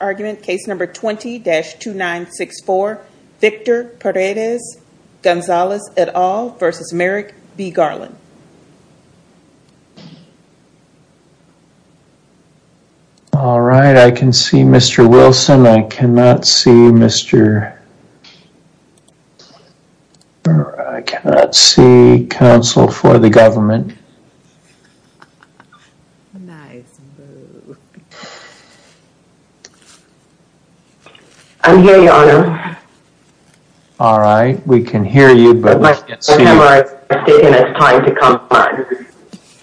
argument case number 20-2964 Victor Paredes Gonzales et al versus Merrick B. Garland. All right I can see Mr. Wilson. I cannot see Mr. I cannot see counsel for the government. I'm here your honor. All right we can hear you but my camera is taking its time to come on.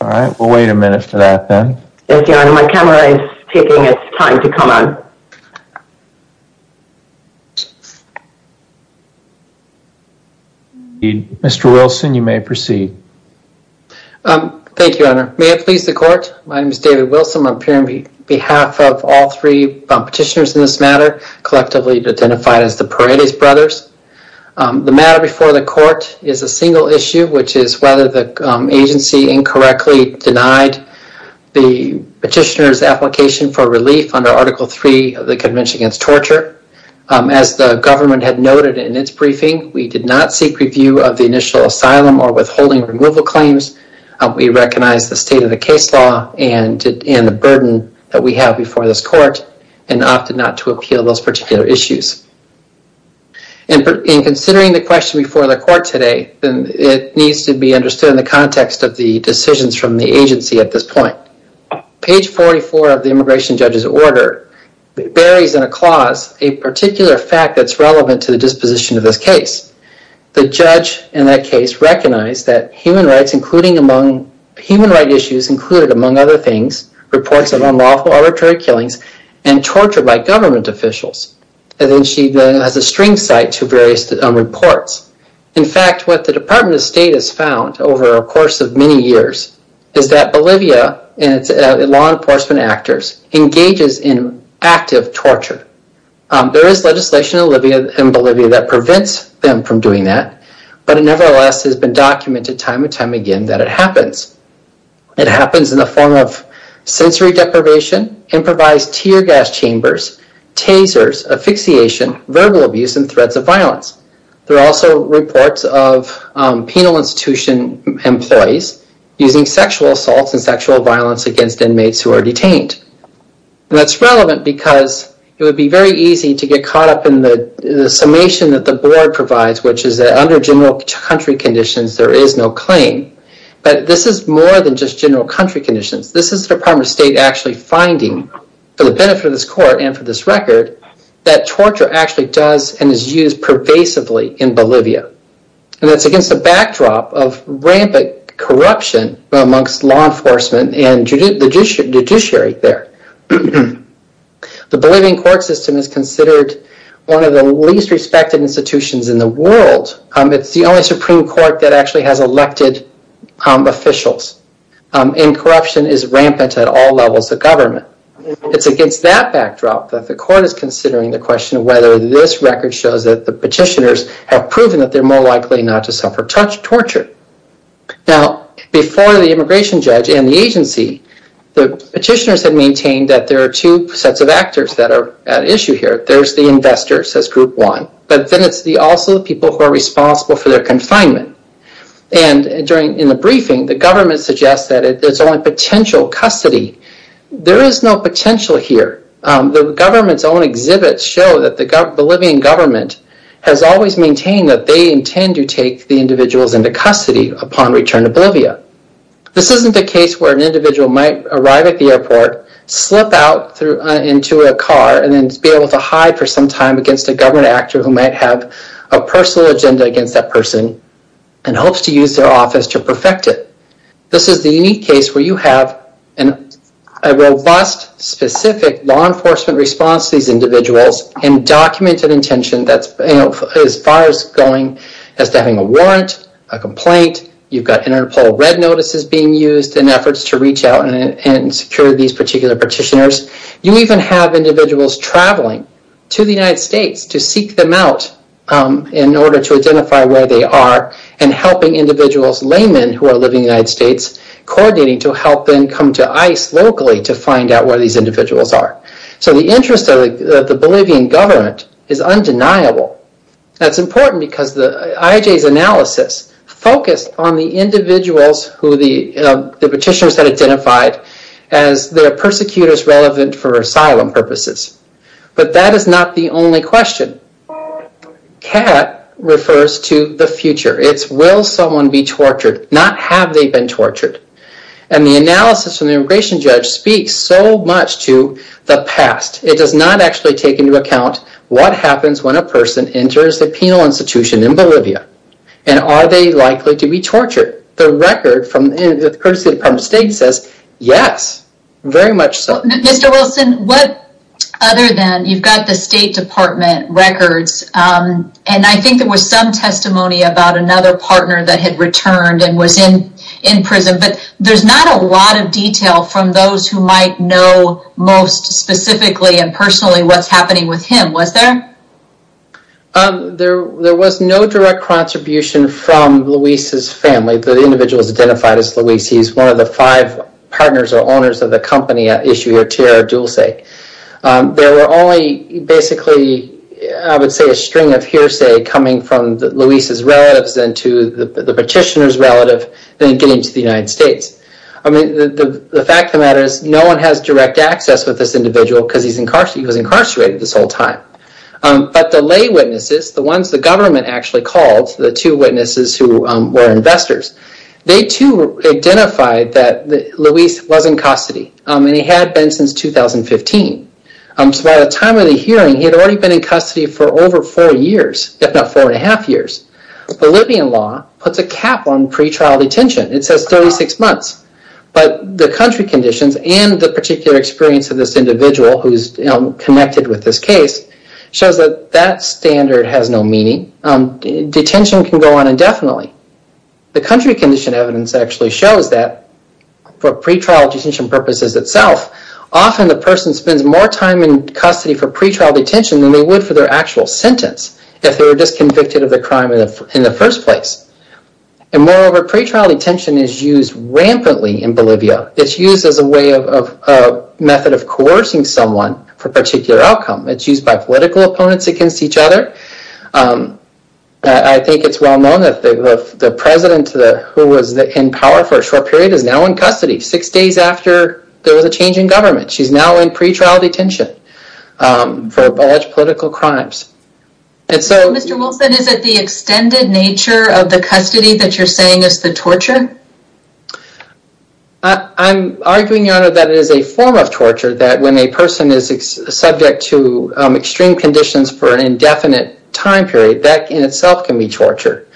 All right we'll wait a minute for that then. Yes your honor my camera is taking its time to come on. Mr. Wilson you may proceed. Thank you your honor. May it please the court my name is David Wilson. I'm appearing on behalf of all three petitioners in this matter collectively identified as the Paredes brothers. The matter before the court is a single issue which is whether the agency incorrectly denied the petitioner's application for relief under article 3 of the convention against torture. As the government had noted in its briefing we did not seek review of the initial asylum or withholding removal claims. We recognize the state of the case law and the burden that we have before this court and opted not to appeal those particular issues. In considering the question before the court today then it needs to be understood in the context of the decisions from the agency at this point. Page 44 of the immigration judge's order buries in a clause a particular fact that's relevant to the disposition of this case. The judge in that case recognized that human rights including among human right issues included among other things reports of unlawful arbitrary killings and torture by government officials and then she has a string cite to various reports. In fact what the department of state has found over a course of many years is that Bolivia and its law enforcement actors engages in active torture. There is legislation in Bolivia that prevents them from doing that but it nevertheless has been documented time and time again that it happens. It happens in the form of sensory deprivation, improvised tear gas chambers, tasers, asphyxiation, verbal abuse, and threats of violence. There are also reports of penal institution employees using sexual assaults and sexual violence against inmates who are detained. That's relevant because it would be very easy to get caught up in the summation that the board provides which is that under general country conditions there is no claim but this is more than just general country conditions. This is the department of state actually finding for the benefit of this court and for this record that torture actually does and is used pervasively in Bolivia and that's against the backdrop of rampant corruption amongst law enforcement and the judiciary there. The Bolivian court system is considered one of the least respected institutions in the world. It's the only supreme court that actually has elected officials and corruption is rampant at all levels of government. It's against that record shows that the petitioners have proven that they're more likely not to suffer torture. Now before the immigration judge and the agency, the petitioners had maintained that there are two sets of actors that are at issue here. There's the investors as group one but then it's also the people who are responsible for their confinement and during in the briefing the government suggests that it's only potential custody. There is no potential here. The government's exhibits show that the Bolivian government has always maintained that they intend to take the individuals into custody upon return to Bolivia. This isn't the case where an individual might arrive at the airport, slip out into a car and then be able to hide for some time against a government actor who might have a personal agenda against that person and hopes to use their office to perfect it. This is the unique case where you have a robust specific law enforcement response these individuals and documented intention that's as far as going as having a warrant, a complaint. You've got interpol red notices being used in efforts to reach out and secure these particular petitioners. You even have individuals traveling to the United States to seek them out in order to identify where they are and helping individuals, laymen who are living in the United States, coordinating to help them come to ICE locally to find out where these Bolivian government is undeniable. That's important because IJ's analysis focused on the individuals who the petitioners had identified as their persecutors relevant for asylum purposes. But that is not the only question. CAT refers to the future. It's will someone be tortured, not have they been tortured. The analysis from the immigration judge speaks so much to the past. It does not actually take into account what happens when a person enters the penal institution in Bolivia and are they likely to be tortured. The record from the courtesy of the Department of State says yes, very much so. Mr. Wilson, what other than you've got the State Department records and I think there was some testimony about another partner that had returned and was in prison, but there's not a lot of detail from those who might know most specifically and personally what's happening with him, was there? There was no direct contribution from Luis's family. The individual is identified as Luis. He's one of the five partners or owners of the company at issue here, TR Dulce. There were only basically I would say a string of hearsay coming from Luis's relatives and to the petitioner's relative then getting to the United States. The fact of the matter is no one has direct access with this individual because he was incarcerated this whole time. But the lay witnesses, the ones the government actually called, the two witnesses who were investors, they too identified that Luis was in custody and he had been since 2015. So by the time of the hearing, he had already been in custody for over four years, if not four and a half years. Bolivian law puts a cap on pre-trial detention. It says 36 months, but the country conditions and the particular experience of this individual who's connected with this case shows that that standard has no meaning. Detention can go on indefinitely. The country condition evidence actually shows that for pre-trial detention purposes itself, often the person spends more time in custody for pre-trial detention than they would for their actual sentence if they were just convicted of the crime in the first place. And moreover, pre-trial detention is used rampantly in Bolivia. It's used as a way of method of coercing someone for particular outcome. It's used by political opponents against each other. I think it's well known that the president who was in power for a short period is now in custody six days after there was a change in government. She's now in pre-trial detention for alleged political crimes. Mr. Wilson, is it the extended nature of the custody that you're saying is the torture? I'm arguing, Your Honor, that it is a form of torture that when a person is subject to extreme conditions for an indefinite time period, that in itself can be torture.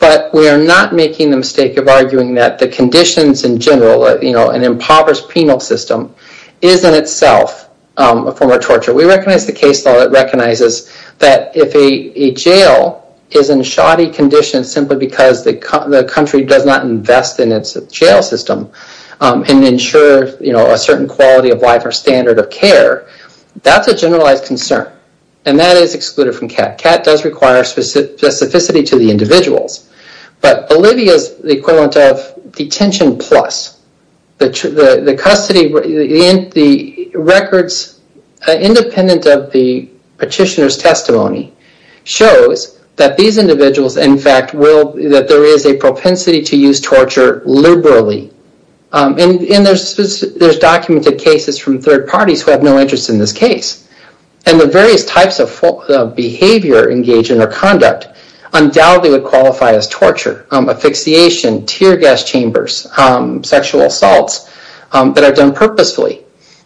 But we are not making the mistake of arguing that the conditions in general, an impoverished penal system, is in itself a form of torture. We recognize the case law that recognizes that if a jail is in shoddy conditions simply because the country does not invest in its jail system and ensure a certain quality of life or standard of care, that's a generalized concern. And that is excluded from CAT. CAT does require specificity to the individuals. But Bolivia is the equivalent of detention plus. The records, independent of the petitioner's testimony, shows that these individuals, in fact, that there is a propensity to use torture liberally. And there's documented cases from third parties who have no interest in this case. And the various types of behavior, engagement, or conduct undoubtedly would qualify as torture, asphyxiation, tear gas chambers, sexual assaults that are done purposefully.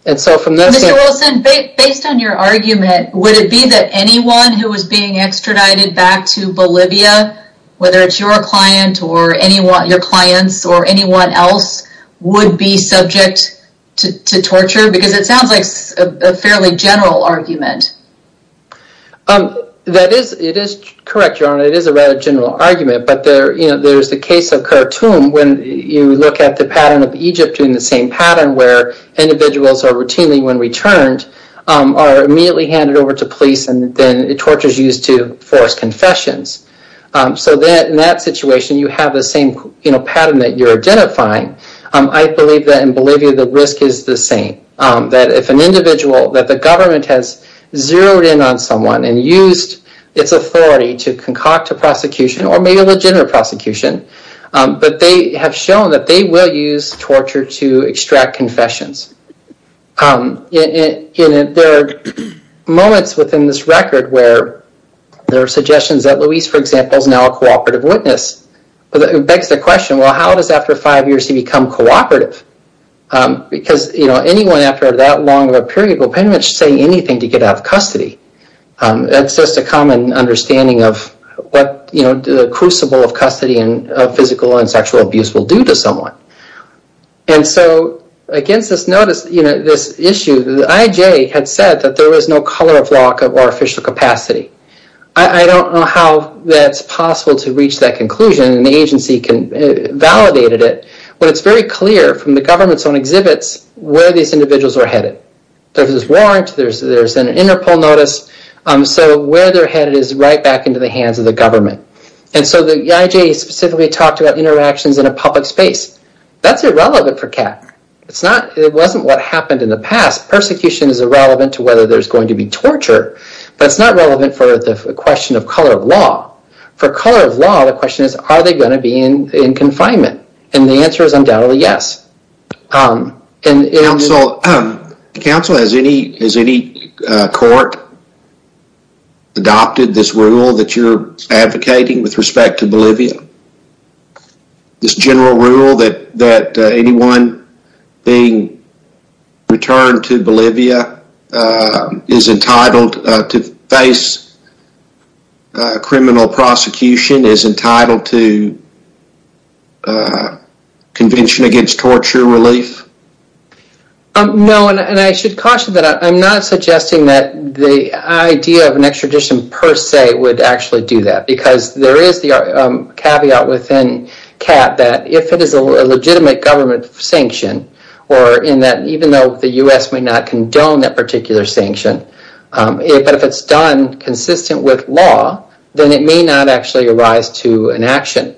Based on your argument, would it be that anyone who was being extradited back to Bolivia, whether it's your client or your clients or anyone else, would be subject to torture? Because it is a general argument. That is correct, Your Honor. It is a rather general argument. But there's the case of Khartoum when you look at the pattern of Egypt in the same pattern where individuals are routinely, when returned, are immediately handed over to police and then torture is used to force confessions. So in that situation, you have the same pattern that you're identifying. I believe that in Bolivia, the risk is the same. That if an individual, that the government has zeroed in on someone and used its authority to concoct a prosecution or maybe a legitimate prosecution, but they have shown that they will use torture to extract confessions. There are moments within this record where there are suggestions that Luis, for example, is now a cooperative witness. But it begs the question, well, how does after five years he say anything to get out of custody? That's just a common understanding of what the crucible of custody and physical and sexual abuse will do to someone. And so against this issue, the IJ had said that there was no color of lock or official capacity. I don't know how that's possible to reach that conclusion and the agency validated it, but it's very clear from the government's own exhibits where these individuals are headed. There's this warrant, there's an interpol notice, so where they're headed is right back into the hands of the government. And so the IJ specifically talked about interactions in a public space. That's irrelevant for CAT. It wasn't what happened in the past. Persecution is irrelevant to whether there's going to be torture, but it's not relevant for the question of color of law. For color of law, the question is, are they going to be in jail? Counsel, has any court adopted this rule that you're advocating with respect to Bolivia? This general rule that anyone being returned to Bolivia is entitled to face criminal prosecution, is entitled to convention against torture relief? No, and I should caution that I'm not suggesting that the idea of an extradition per se would actually do that, because there is the caveat within CAT that if it is a legitimate government sanction, or in that even though the U.S. may not condone that particular sanction, but if it's done consistent with law, then it may not actually arise to an action.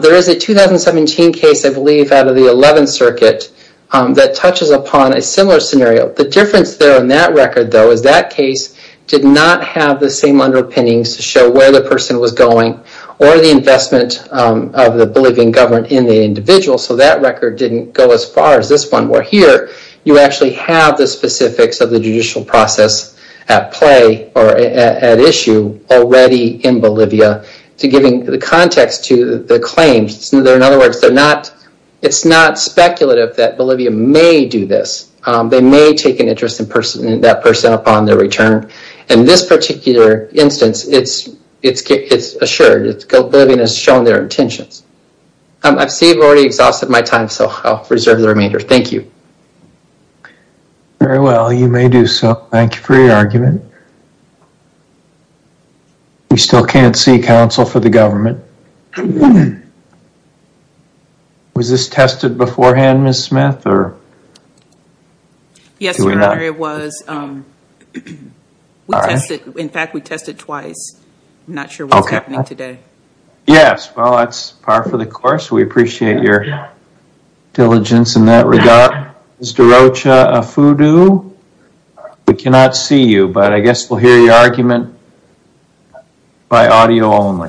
There is a 2017 case, I believe out of the 11th circuit, that touches upon a similar scenario. The difference there in that record, though, is that case did not have the same underpinnings to show where the person was going, or the investment of the Bolivian government in the individual, so that record didn't go as far as this one. Where here, you actually have the specifics of the judicial process at play, or at issue, already in Bolivia, to giving the context to the claims. In other words, it's not speculative that Bolivia may do this. They may take an interest in that person upon their return. In this particular instance, it's assured. Bolivia has shown their intentions. I see I've already exhausted my time, so I'll reserve the remainder. Thank you. Very well, you may do so. Thank you for your argument. We still can't see counsel for the government. Was this tested beforehand, Ms. Smith? Yes, it was. In fact, we tested twice. I'm not sure what's happening today. Yes, well that's par for the course. We appreciate your diligence in that regard. Ms. DeRocha-Afudu, we cannot see you, but I guess we'll hear your argument by audio only.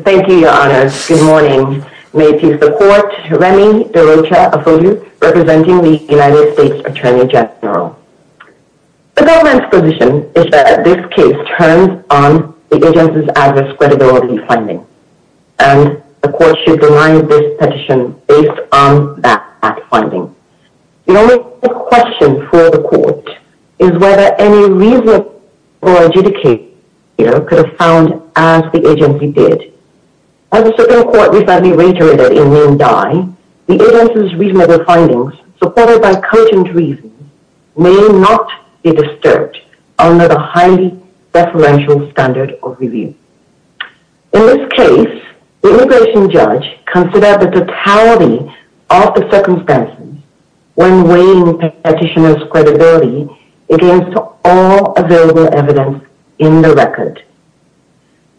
Thank you, Your Honor. Good morning. May it please the Court, Remy DeRocha-Afudu, representing the United States Attorney General. The government's position is that this case turns on the agency's adverse credibility finding, and the Court should deny this petition based on that finding. The only question for the Court is whether any reason for adjudicating could have been found as the agency did. As the Supreme Court recently reiterated in Maine Dye, the agency's reasonable findings, supported by content reasons, may not be disturbed under the deferential standard of review. In this case, the immigration judge considered the totality of the circumstances when weighing the petitioner's credibility against all available evidence in the record,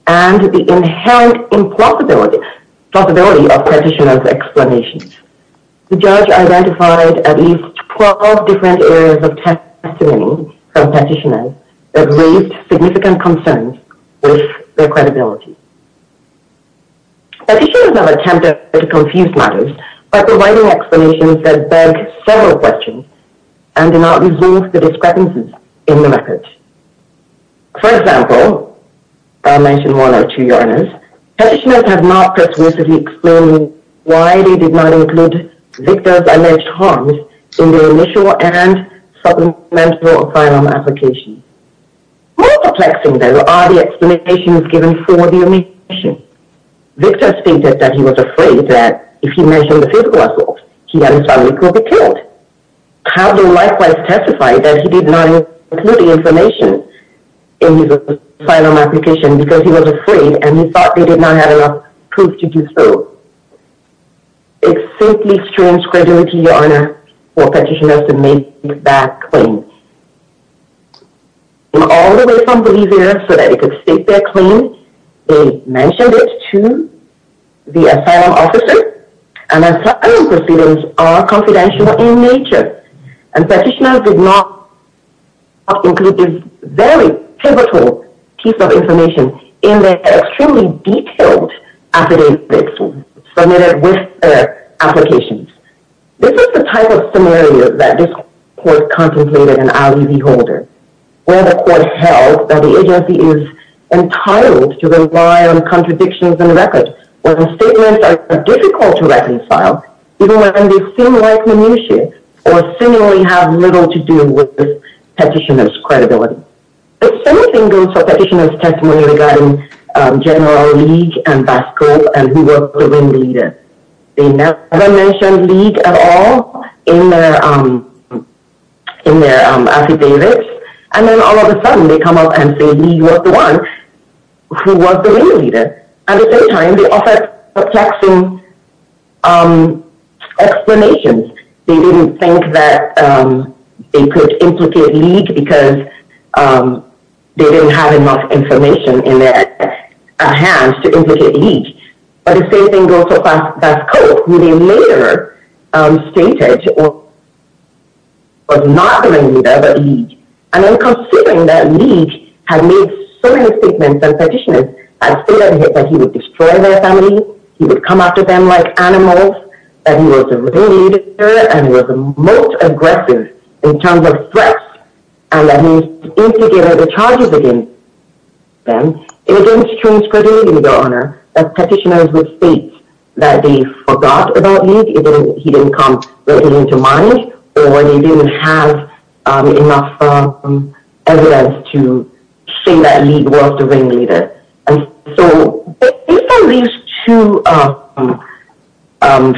and the inherent plausibility of the petitioner's explanation. The judge identified at least 12 different areas of testimony from petitioners that raised significant concerns with their credibility. Petitioners have attempted to confuse matters by providing explanations that beg several questions and do not resolve the discrepancies in the record. For example, I'll mention one or two, Your Honor. Petitioners have not persuasively explained why they did not include Victor's alleged harms in the initial and supplemental asylum application. More perplexing, though, are the explanations given for the immigration. Victor stated that he was afraid that if he mentioned the physical assault, he and his family could be killed. How do you likewise testify that he did not include the information in his asylum application because he was afraid and he thought they did not have enough proof to do so? It's simply strange credibility, Your Honor, for petitioners to make that claim. All the way from Bolivia, so that they could state their claim, they mentioned it to the asylum officer, and asylum proceedings are confidential in nature, and petitioners did not include this pivotal piece of information in the extremely detailed affidavits submitted with their applications. This is the type of scenario that this Court contemplated in Ali V. Holder, where the Court held that the agency is entitled to rely on contradictions in the record, where the statements are difficult to reconcile, even when they seem like minutiae or seemingly have little to do with the petitioner's credibility. The same thing goes for petitioner's testimony regarding General League and Vasco, and who was the wing leader. They never mentioned League at all in their affidavits, and then all of a sudden they come up and say he was the one who was the wing leader. At the same time, they offered perplexing explanations. They didn't think that they could implicate League because they didn't have enough information in their hands to implicate League. But the same thing goes for Vasco, who they later stated was not the wing leader, but League. And then considering that League had made so many statements and petitioners had stated that he would destroy their family, he would come after them like animals, that he was a rebel leader, and he was the most aggressive in terms of threats, and that he instigated the charges against them, it didn't change credibility, Your Honor, as petitioners would state that they forgot about League, he didn't come directly into mind, or they didn't have enough evidence to say that League was the wing leader. So, based on these two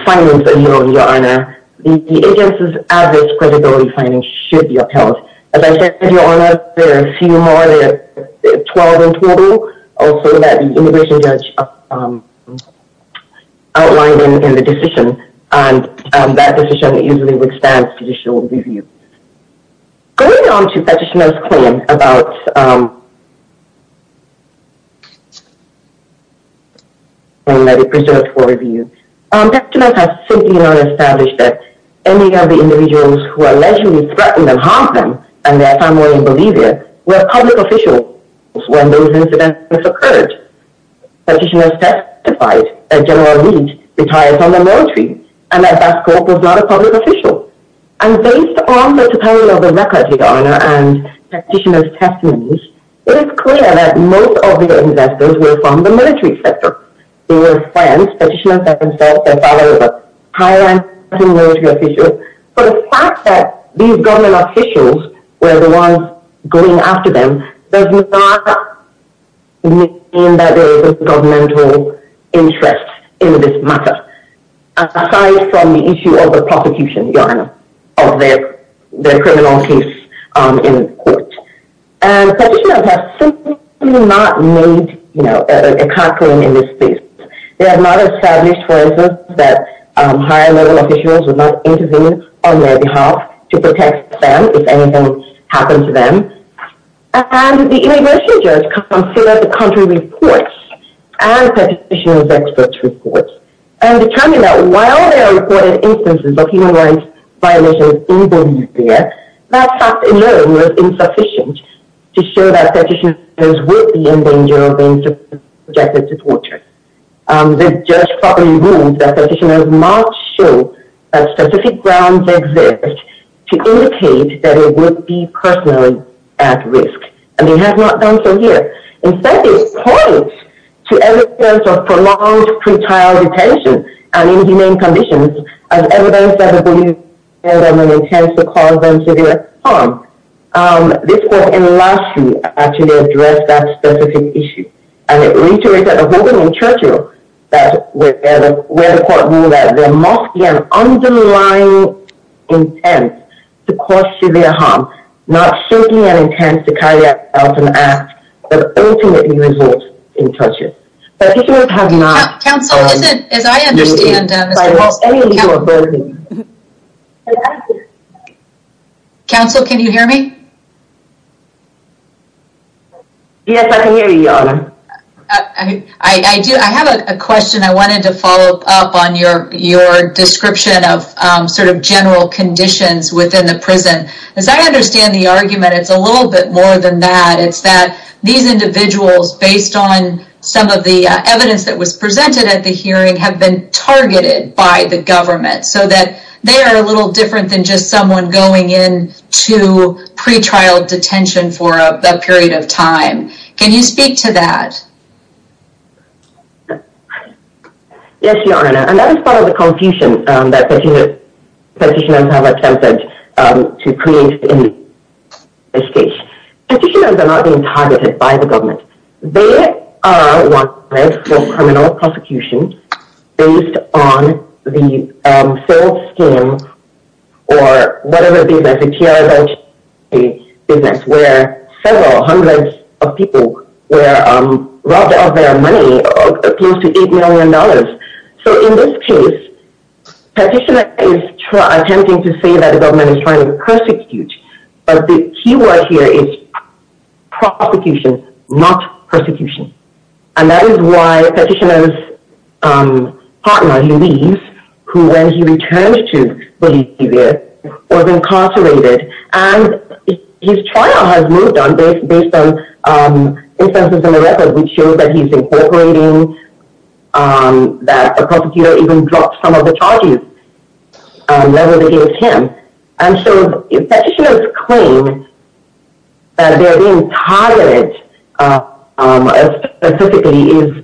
findings that you know, Your Honor, the agency's average credibility findings should be upheld. As I said, Your Honor, there are a few more, there are 12 in total, also that the immigration judge outlined in the decision, and that decision usually would stand with you. Going on to Petitioner's claim that he preserved for review, Petitioners have simply not established that any of the individuals who allegedly threatened and harmed them and their family in Bolivia were public officials when those incidents occurred. Petitioners testified that General League retired from the military and that Vasco was not a public official. And based on the totality of the record, Your Honor, and Petitioner's testimonies, it is clear that most of the investors were from the military sector. They were friends, Petitioners themselves, their father was a high-ranking military official, but the fact that these government officials were the ones going after them does not mean that there is a governmental interest in this matter, aside from the issue of the prosecution, Your Honor, of their criminal case in court. And Petitioners have simply not made, you know, a conclusion in this case. They have not established, for instance, that higher-level officials would not intervene on their behalf to protect them if anything happened to them. And the immigration judge considered the contrary reports and Petitioner's experts' reports and determined that while there are reported instances of human rights violations in Bolivia, that fact alone was insufficient to show that Petitioners would be in danger of being subjected to torture. The judge properly ruled that Petitioners must show that specific grounds exist to indicate that they would be personally at risk. And they have not done so here. Instead, it points to evidence of prolonged pretrial detention and inhumane conditions as evidence that the Bolivian government intends to cause them severe harm. This court in last year actually addressed that specific issue. And it reiterated a ruling in Churchill where the court ruled that an underlying intent to cause severe harm, not simply an intent to carry out an act, but ultimately result in torture. Petitioners have not... Counsel, can you hear me? I do. I have a question I wanted to follow up on your description of sort of general conditions within the prison. As I understand the argument, it's a little bit more than that. It's that these individuals, based on some of the evidence that was presented at the hearing, have been targeted by the government so that they are a little different than just someone going in to pretrial detention for a period of time. Can you speak to that? Yes, Your Honor. And that is part of the confusion that Petitioners have attempted to create in this case. Petitioners are not being targeted by the government. They are wanted for criminal prosecution based on the full scheme or whatever it is, where several hundreds of people were robbed of their money, close to $8 million. So in this case, Petitioner is attempting to say that the government is trying to persecute, but the key word here is prosecution, not persecution. And that is why Petitioner's partner, who leaves, who when he returns to Bolivia, was incarcerated. And his trial has moved on based on instances in the record which show that he's incorporating, that a prosecutor even dropped some of the charges leveled against him. And so Petitioner's claim that they're being targeted specifically is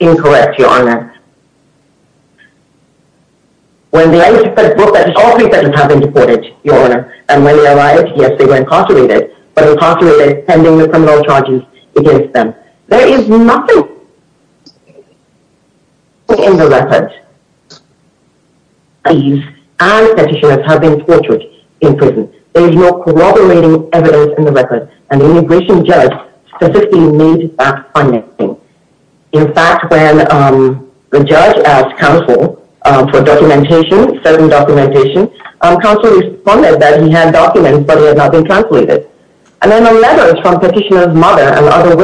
incorrect, Your Honor. When the ICE broke that, all three persons have been deported, Your Honor. And when they arrived, yes, they were incarcerated, but incarcerated pending the criminal charges against them. There is nothing in the record, and Petitioners have been tortured in prison. There is no corroborating evidence in the record. An immigration judge specifically made that finding. In fact, when the judge asked counsel for documentation, certain documentation, counsel responded that he had documents, but they had not been translated. And then the letters from Petitioner's mother and other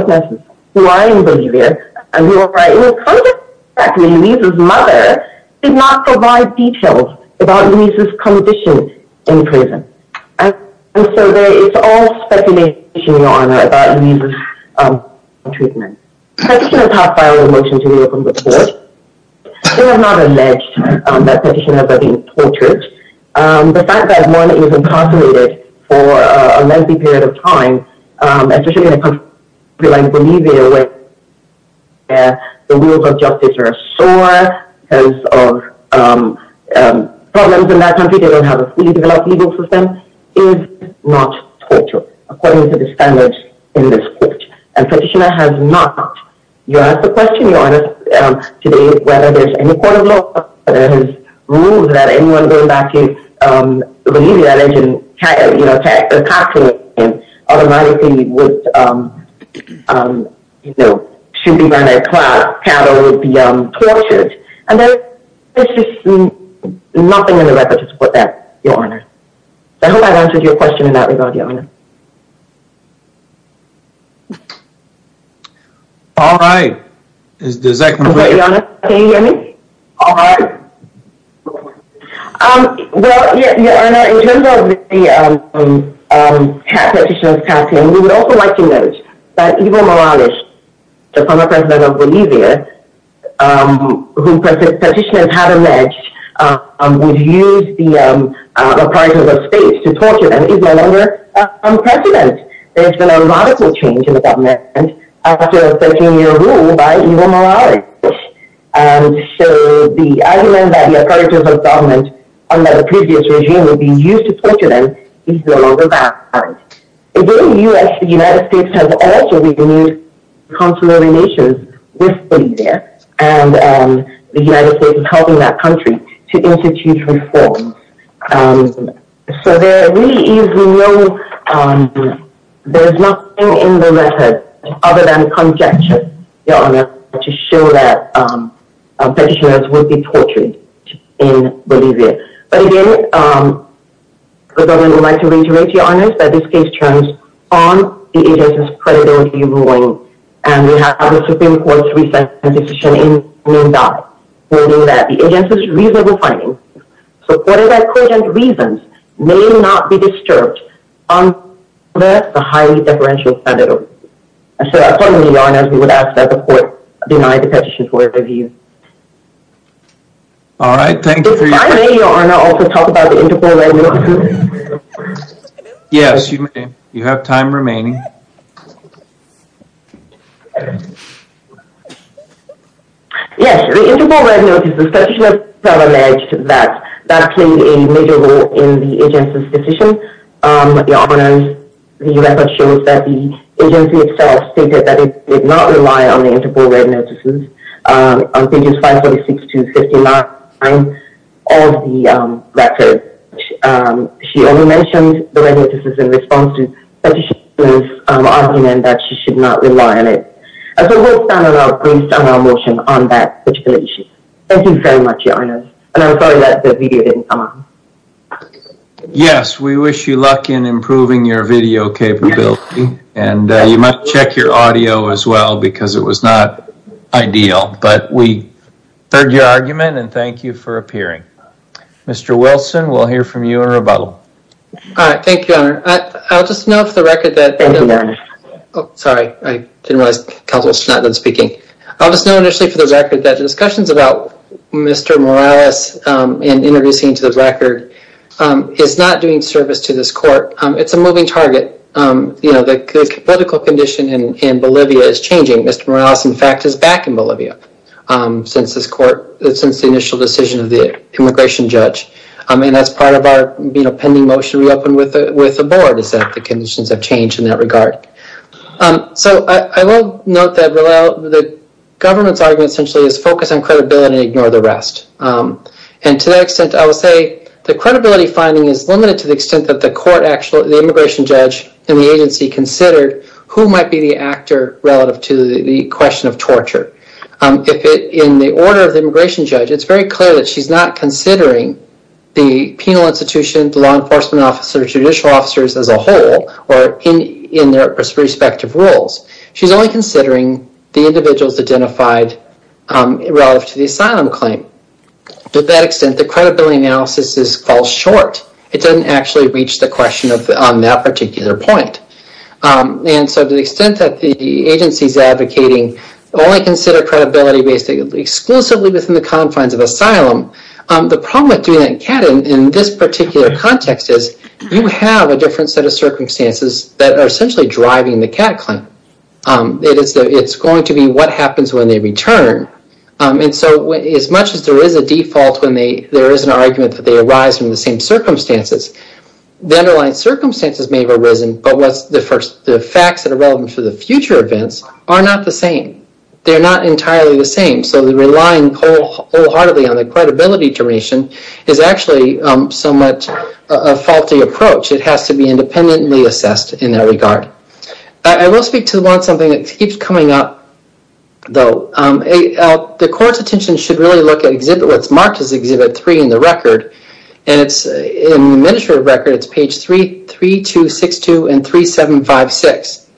and we were right in front of it. In fact, Louise's mother did not provide details about Louise's condition in prison. And so there is all speculation, Your Honor, about Louise's treatment. Petitioners have filed a motion to reopen the court. They have not alleged that Petitioners are being tortured. The fact that one is incarcerated for a lengthy period of time, especially in a country like Bolivia where the rules of justice are sore because of problems in that country, they don't have a fully developed legal system, is not torture, according to the standards in this court. And Petitioner has not. You asked the question, Your Honor, today, whether there's any court of law that has ruled that anyone going back to Bolivia that isn't, you know, taxing and automatically would, um, um, you know, should be run across, cattle would be, um, tortured. And there's just nothing in the record to support that, Your Honor. I hope I've answered your question in that regard, Your Honor. All right. Does that complete? Your Honor, can you hear me? All right. Um, well, Your Honor, in terms of the, um, um, Petitioner's casting, we would also like to note that Ivo Morales, the former president of Bolivia, um, who Petitioners had alleged, um, would use the, um, uh, reprisals of space to torture them, is no longer, uh, on precedent. There's been a radical change in the government after 13-year rule by Ivo Morales. And so, the argument that the approach of the government under the previous regime would be used to torture them is no longer valid. In the U.S., the United States has also been using consular relations with Bolivia, and, um, the United States is helping that country to institute reforms. Um, so there really is no, um, there's nothing in the record other than conjecture, Your Honor, to show that, um, Petitioners will be tortured in Bolivia. But again, um, the government would like to reiterate, Your Honor, that this case turns on the agency's credibility ruling, and we have had the Supreme Court's recent decision in Mundi, holding that the agency's reasonable findings, so court-of-acquaintance reasons may not be disturbed. Um, that's a highly deferential standard of review. And so, accordingly, Your Honor, we would ask that the court deny the petition for review. All right, thank you. If I may, Your Honor, also talk about the Interpol Red Notice. Yes, you may. You have time remaining. Yes, the Interpol Red Notice, Petitioners have alleged that that played a major role in the agency's decision. Um, Your Honor, the record shows that the agency itself stated that it did not rely on the Interpol Red Notices, um, on pages 536 to 59 of the, um, record. Um, and we mentioned the Red Notices in response to Petitioner's, um, argument that she should not rely on it. And so, we'll stand on our, based on our motion on that particular issue. Thank you very much, Your Honor. And I'm sorry that the video didn't come up. Yes, we wish you luck in improving your video capability, and, uh, you might check your audio as well, because it was not ideal, but we heard your argument, and thank you for appearing. Mr. Wilson, we'll hear from you in rebuttal. All right, thank you, Your Honor. I'll just know for the record that... Thank you, Your Honor. Oh, sorry, I didn't realize Counsel was not done speaking. I'll just know initially for the record that the discussions about Mr. Morales, um, and introducing him to the record, um, is not doing service to this court. Um, it's a moving target. Um, you know, the political condition in Bolivia is changing. Mr. Morales, in fact, is back in the court as the immigration judge, um, and that's part of our, you know, pending motion we opened with the, with the board is that the conditions have changed in that regard. Um, so I, I will note that, well, the government's argument essentially is focus on credibility and ignore the rest. Um, and to that extent, I will say the credibility finding is limited to the extent that the court actually, the immigration judge and the agency considered who might be the actor relative to the question of torture. Um, if it, in the order of the immigration judge, it's very clear that she's not considering the penal institution, the law enforcement officer, judicial officers as a whole, or in, in their respective roles. She's only considering the individuals identified, um, relative to the asylum claim. To that extent, the credibility analysis is, falls short. It doesn't actually reach the question of, on that particular point. Um, and so to the extent that the agency's only consider credibility based exclusively within the confines of asylum, um, the problem with doing that in CAT in this particular context is you have a different set of circumstances that are essentially driving the CAT claim. Um, it is, it's going to be what happens when they return. Um, and so as much as there is a default when they, there is an argument that they arise from the same circumstances, the underlying circumstances may have arisen, but what's the first, the facts that are relevant for the future events are not the same. They're not entirely the same. So the relying wholeheartedly on the credibility duration is actually, um, somewhat a faulty approach. It has to be independently assessed in that regard. I will speak to the one, something that keeps coming up though. Um, the court's attention should really look at exhibit, what's marked as Exhibit 3 in the record. And it's in the administrative record, it's page 3, 3, 2, 6, 2, and 3, 7, 5, 6.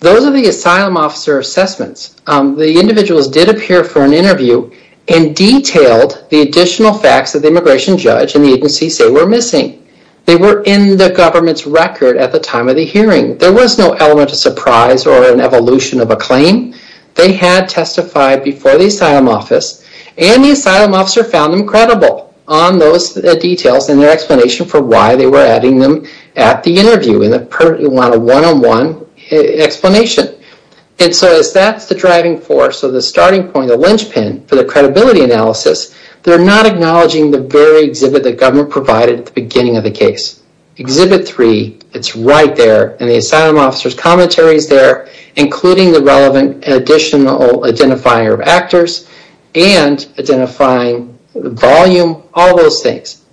Those are the asylum officer assessments. Um, the individuals did appear for an interview and detailed the additional facts that the immigration judge and the agency say were missing. They were in the government's record at the time of the hearing. There was no element of surprise or an evolution of a claim. They had testified before the asylum office and the asylum officer found them credible on those details and their explanation for why they were adding them at the interview in a one-on-one explanation. And so as that's the driving force of the starting point, the linchpin for the credibility analysis, they're not acknowledging the very exhibit that government provided at the beginning of the case. Exhibit 3, it's right there in the asylum officer's commentaries there, including the relevant additional identifier of actors and identifying the volume, all those things.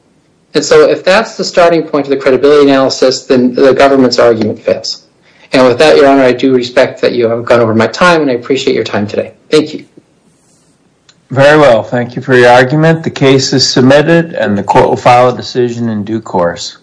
And so if that's the starting point of the credibility analysis, then the government's argument fits. And with that, your honor, I do respect that you have gone over my time and I appreciate your time today. Thank you. Very well. Thank you for your argument. The case is submitted and the court will file a decision in due course.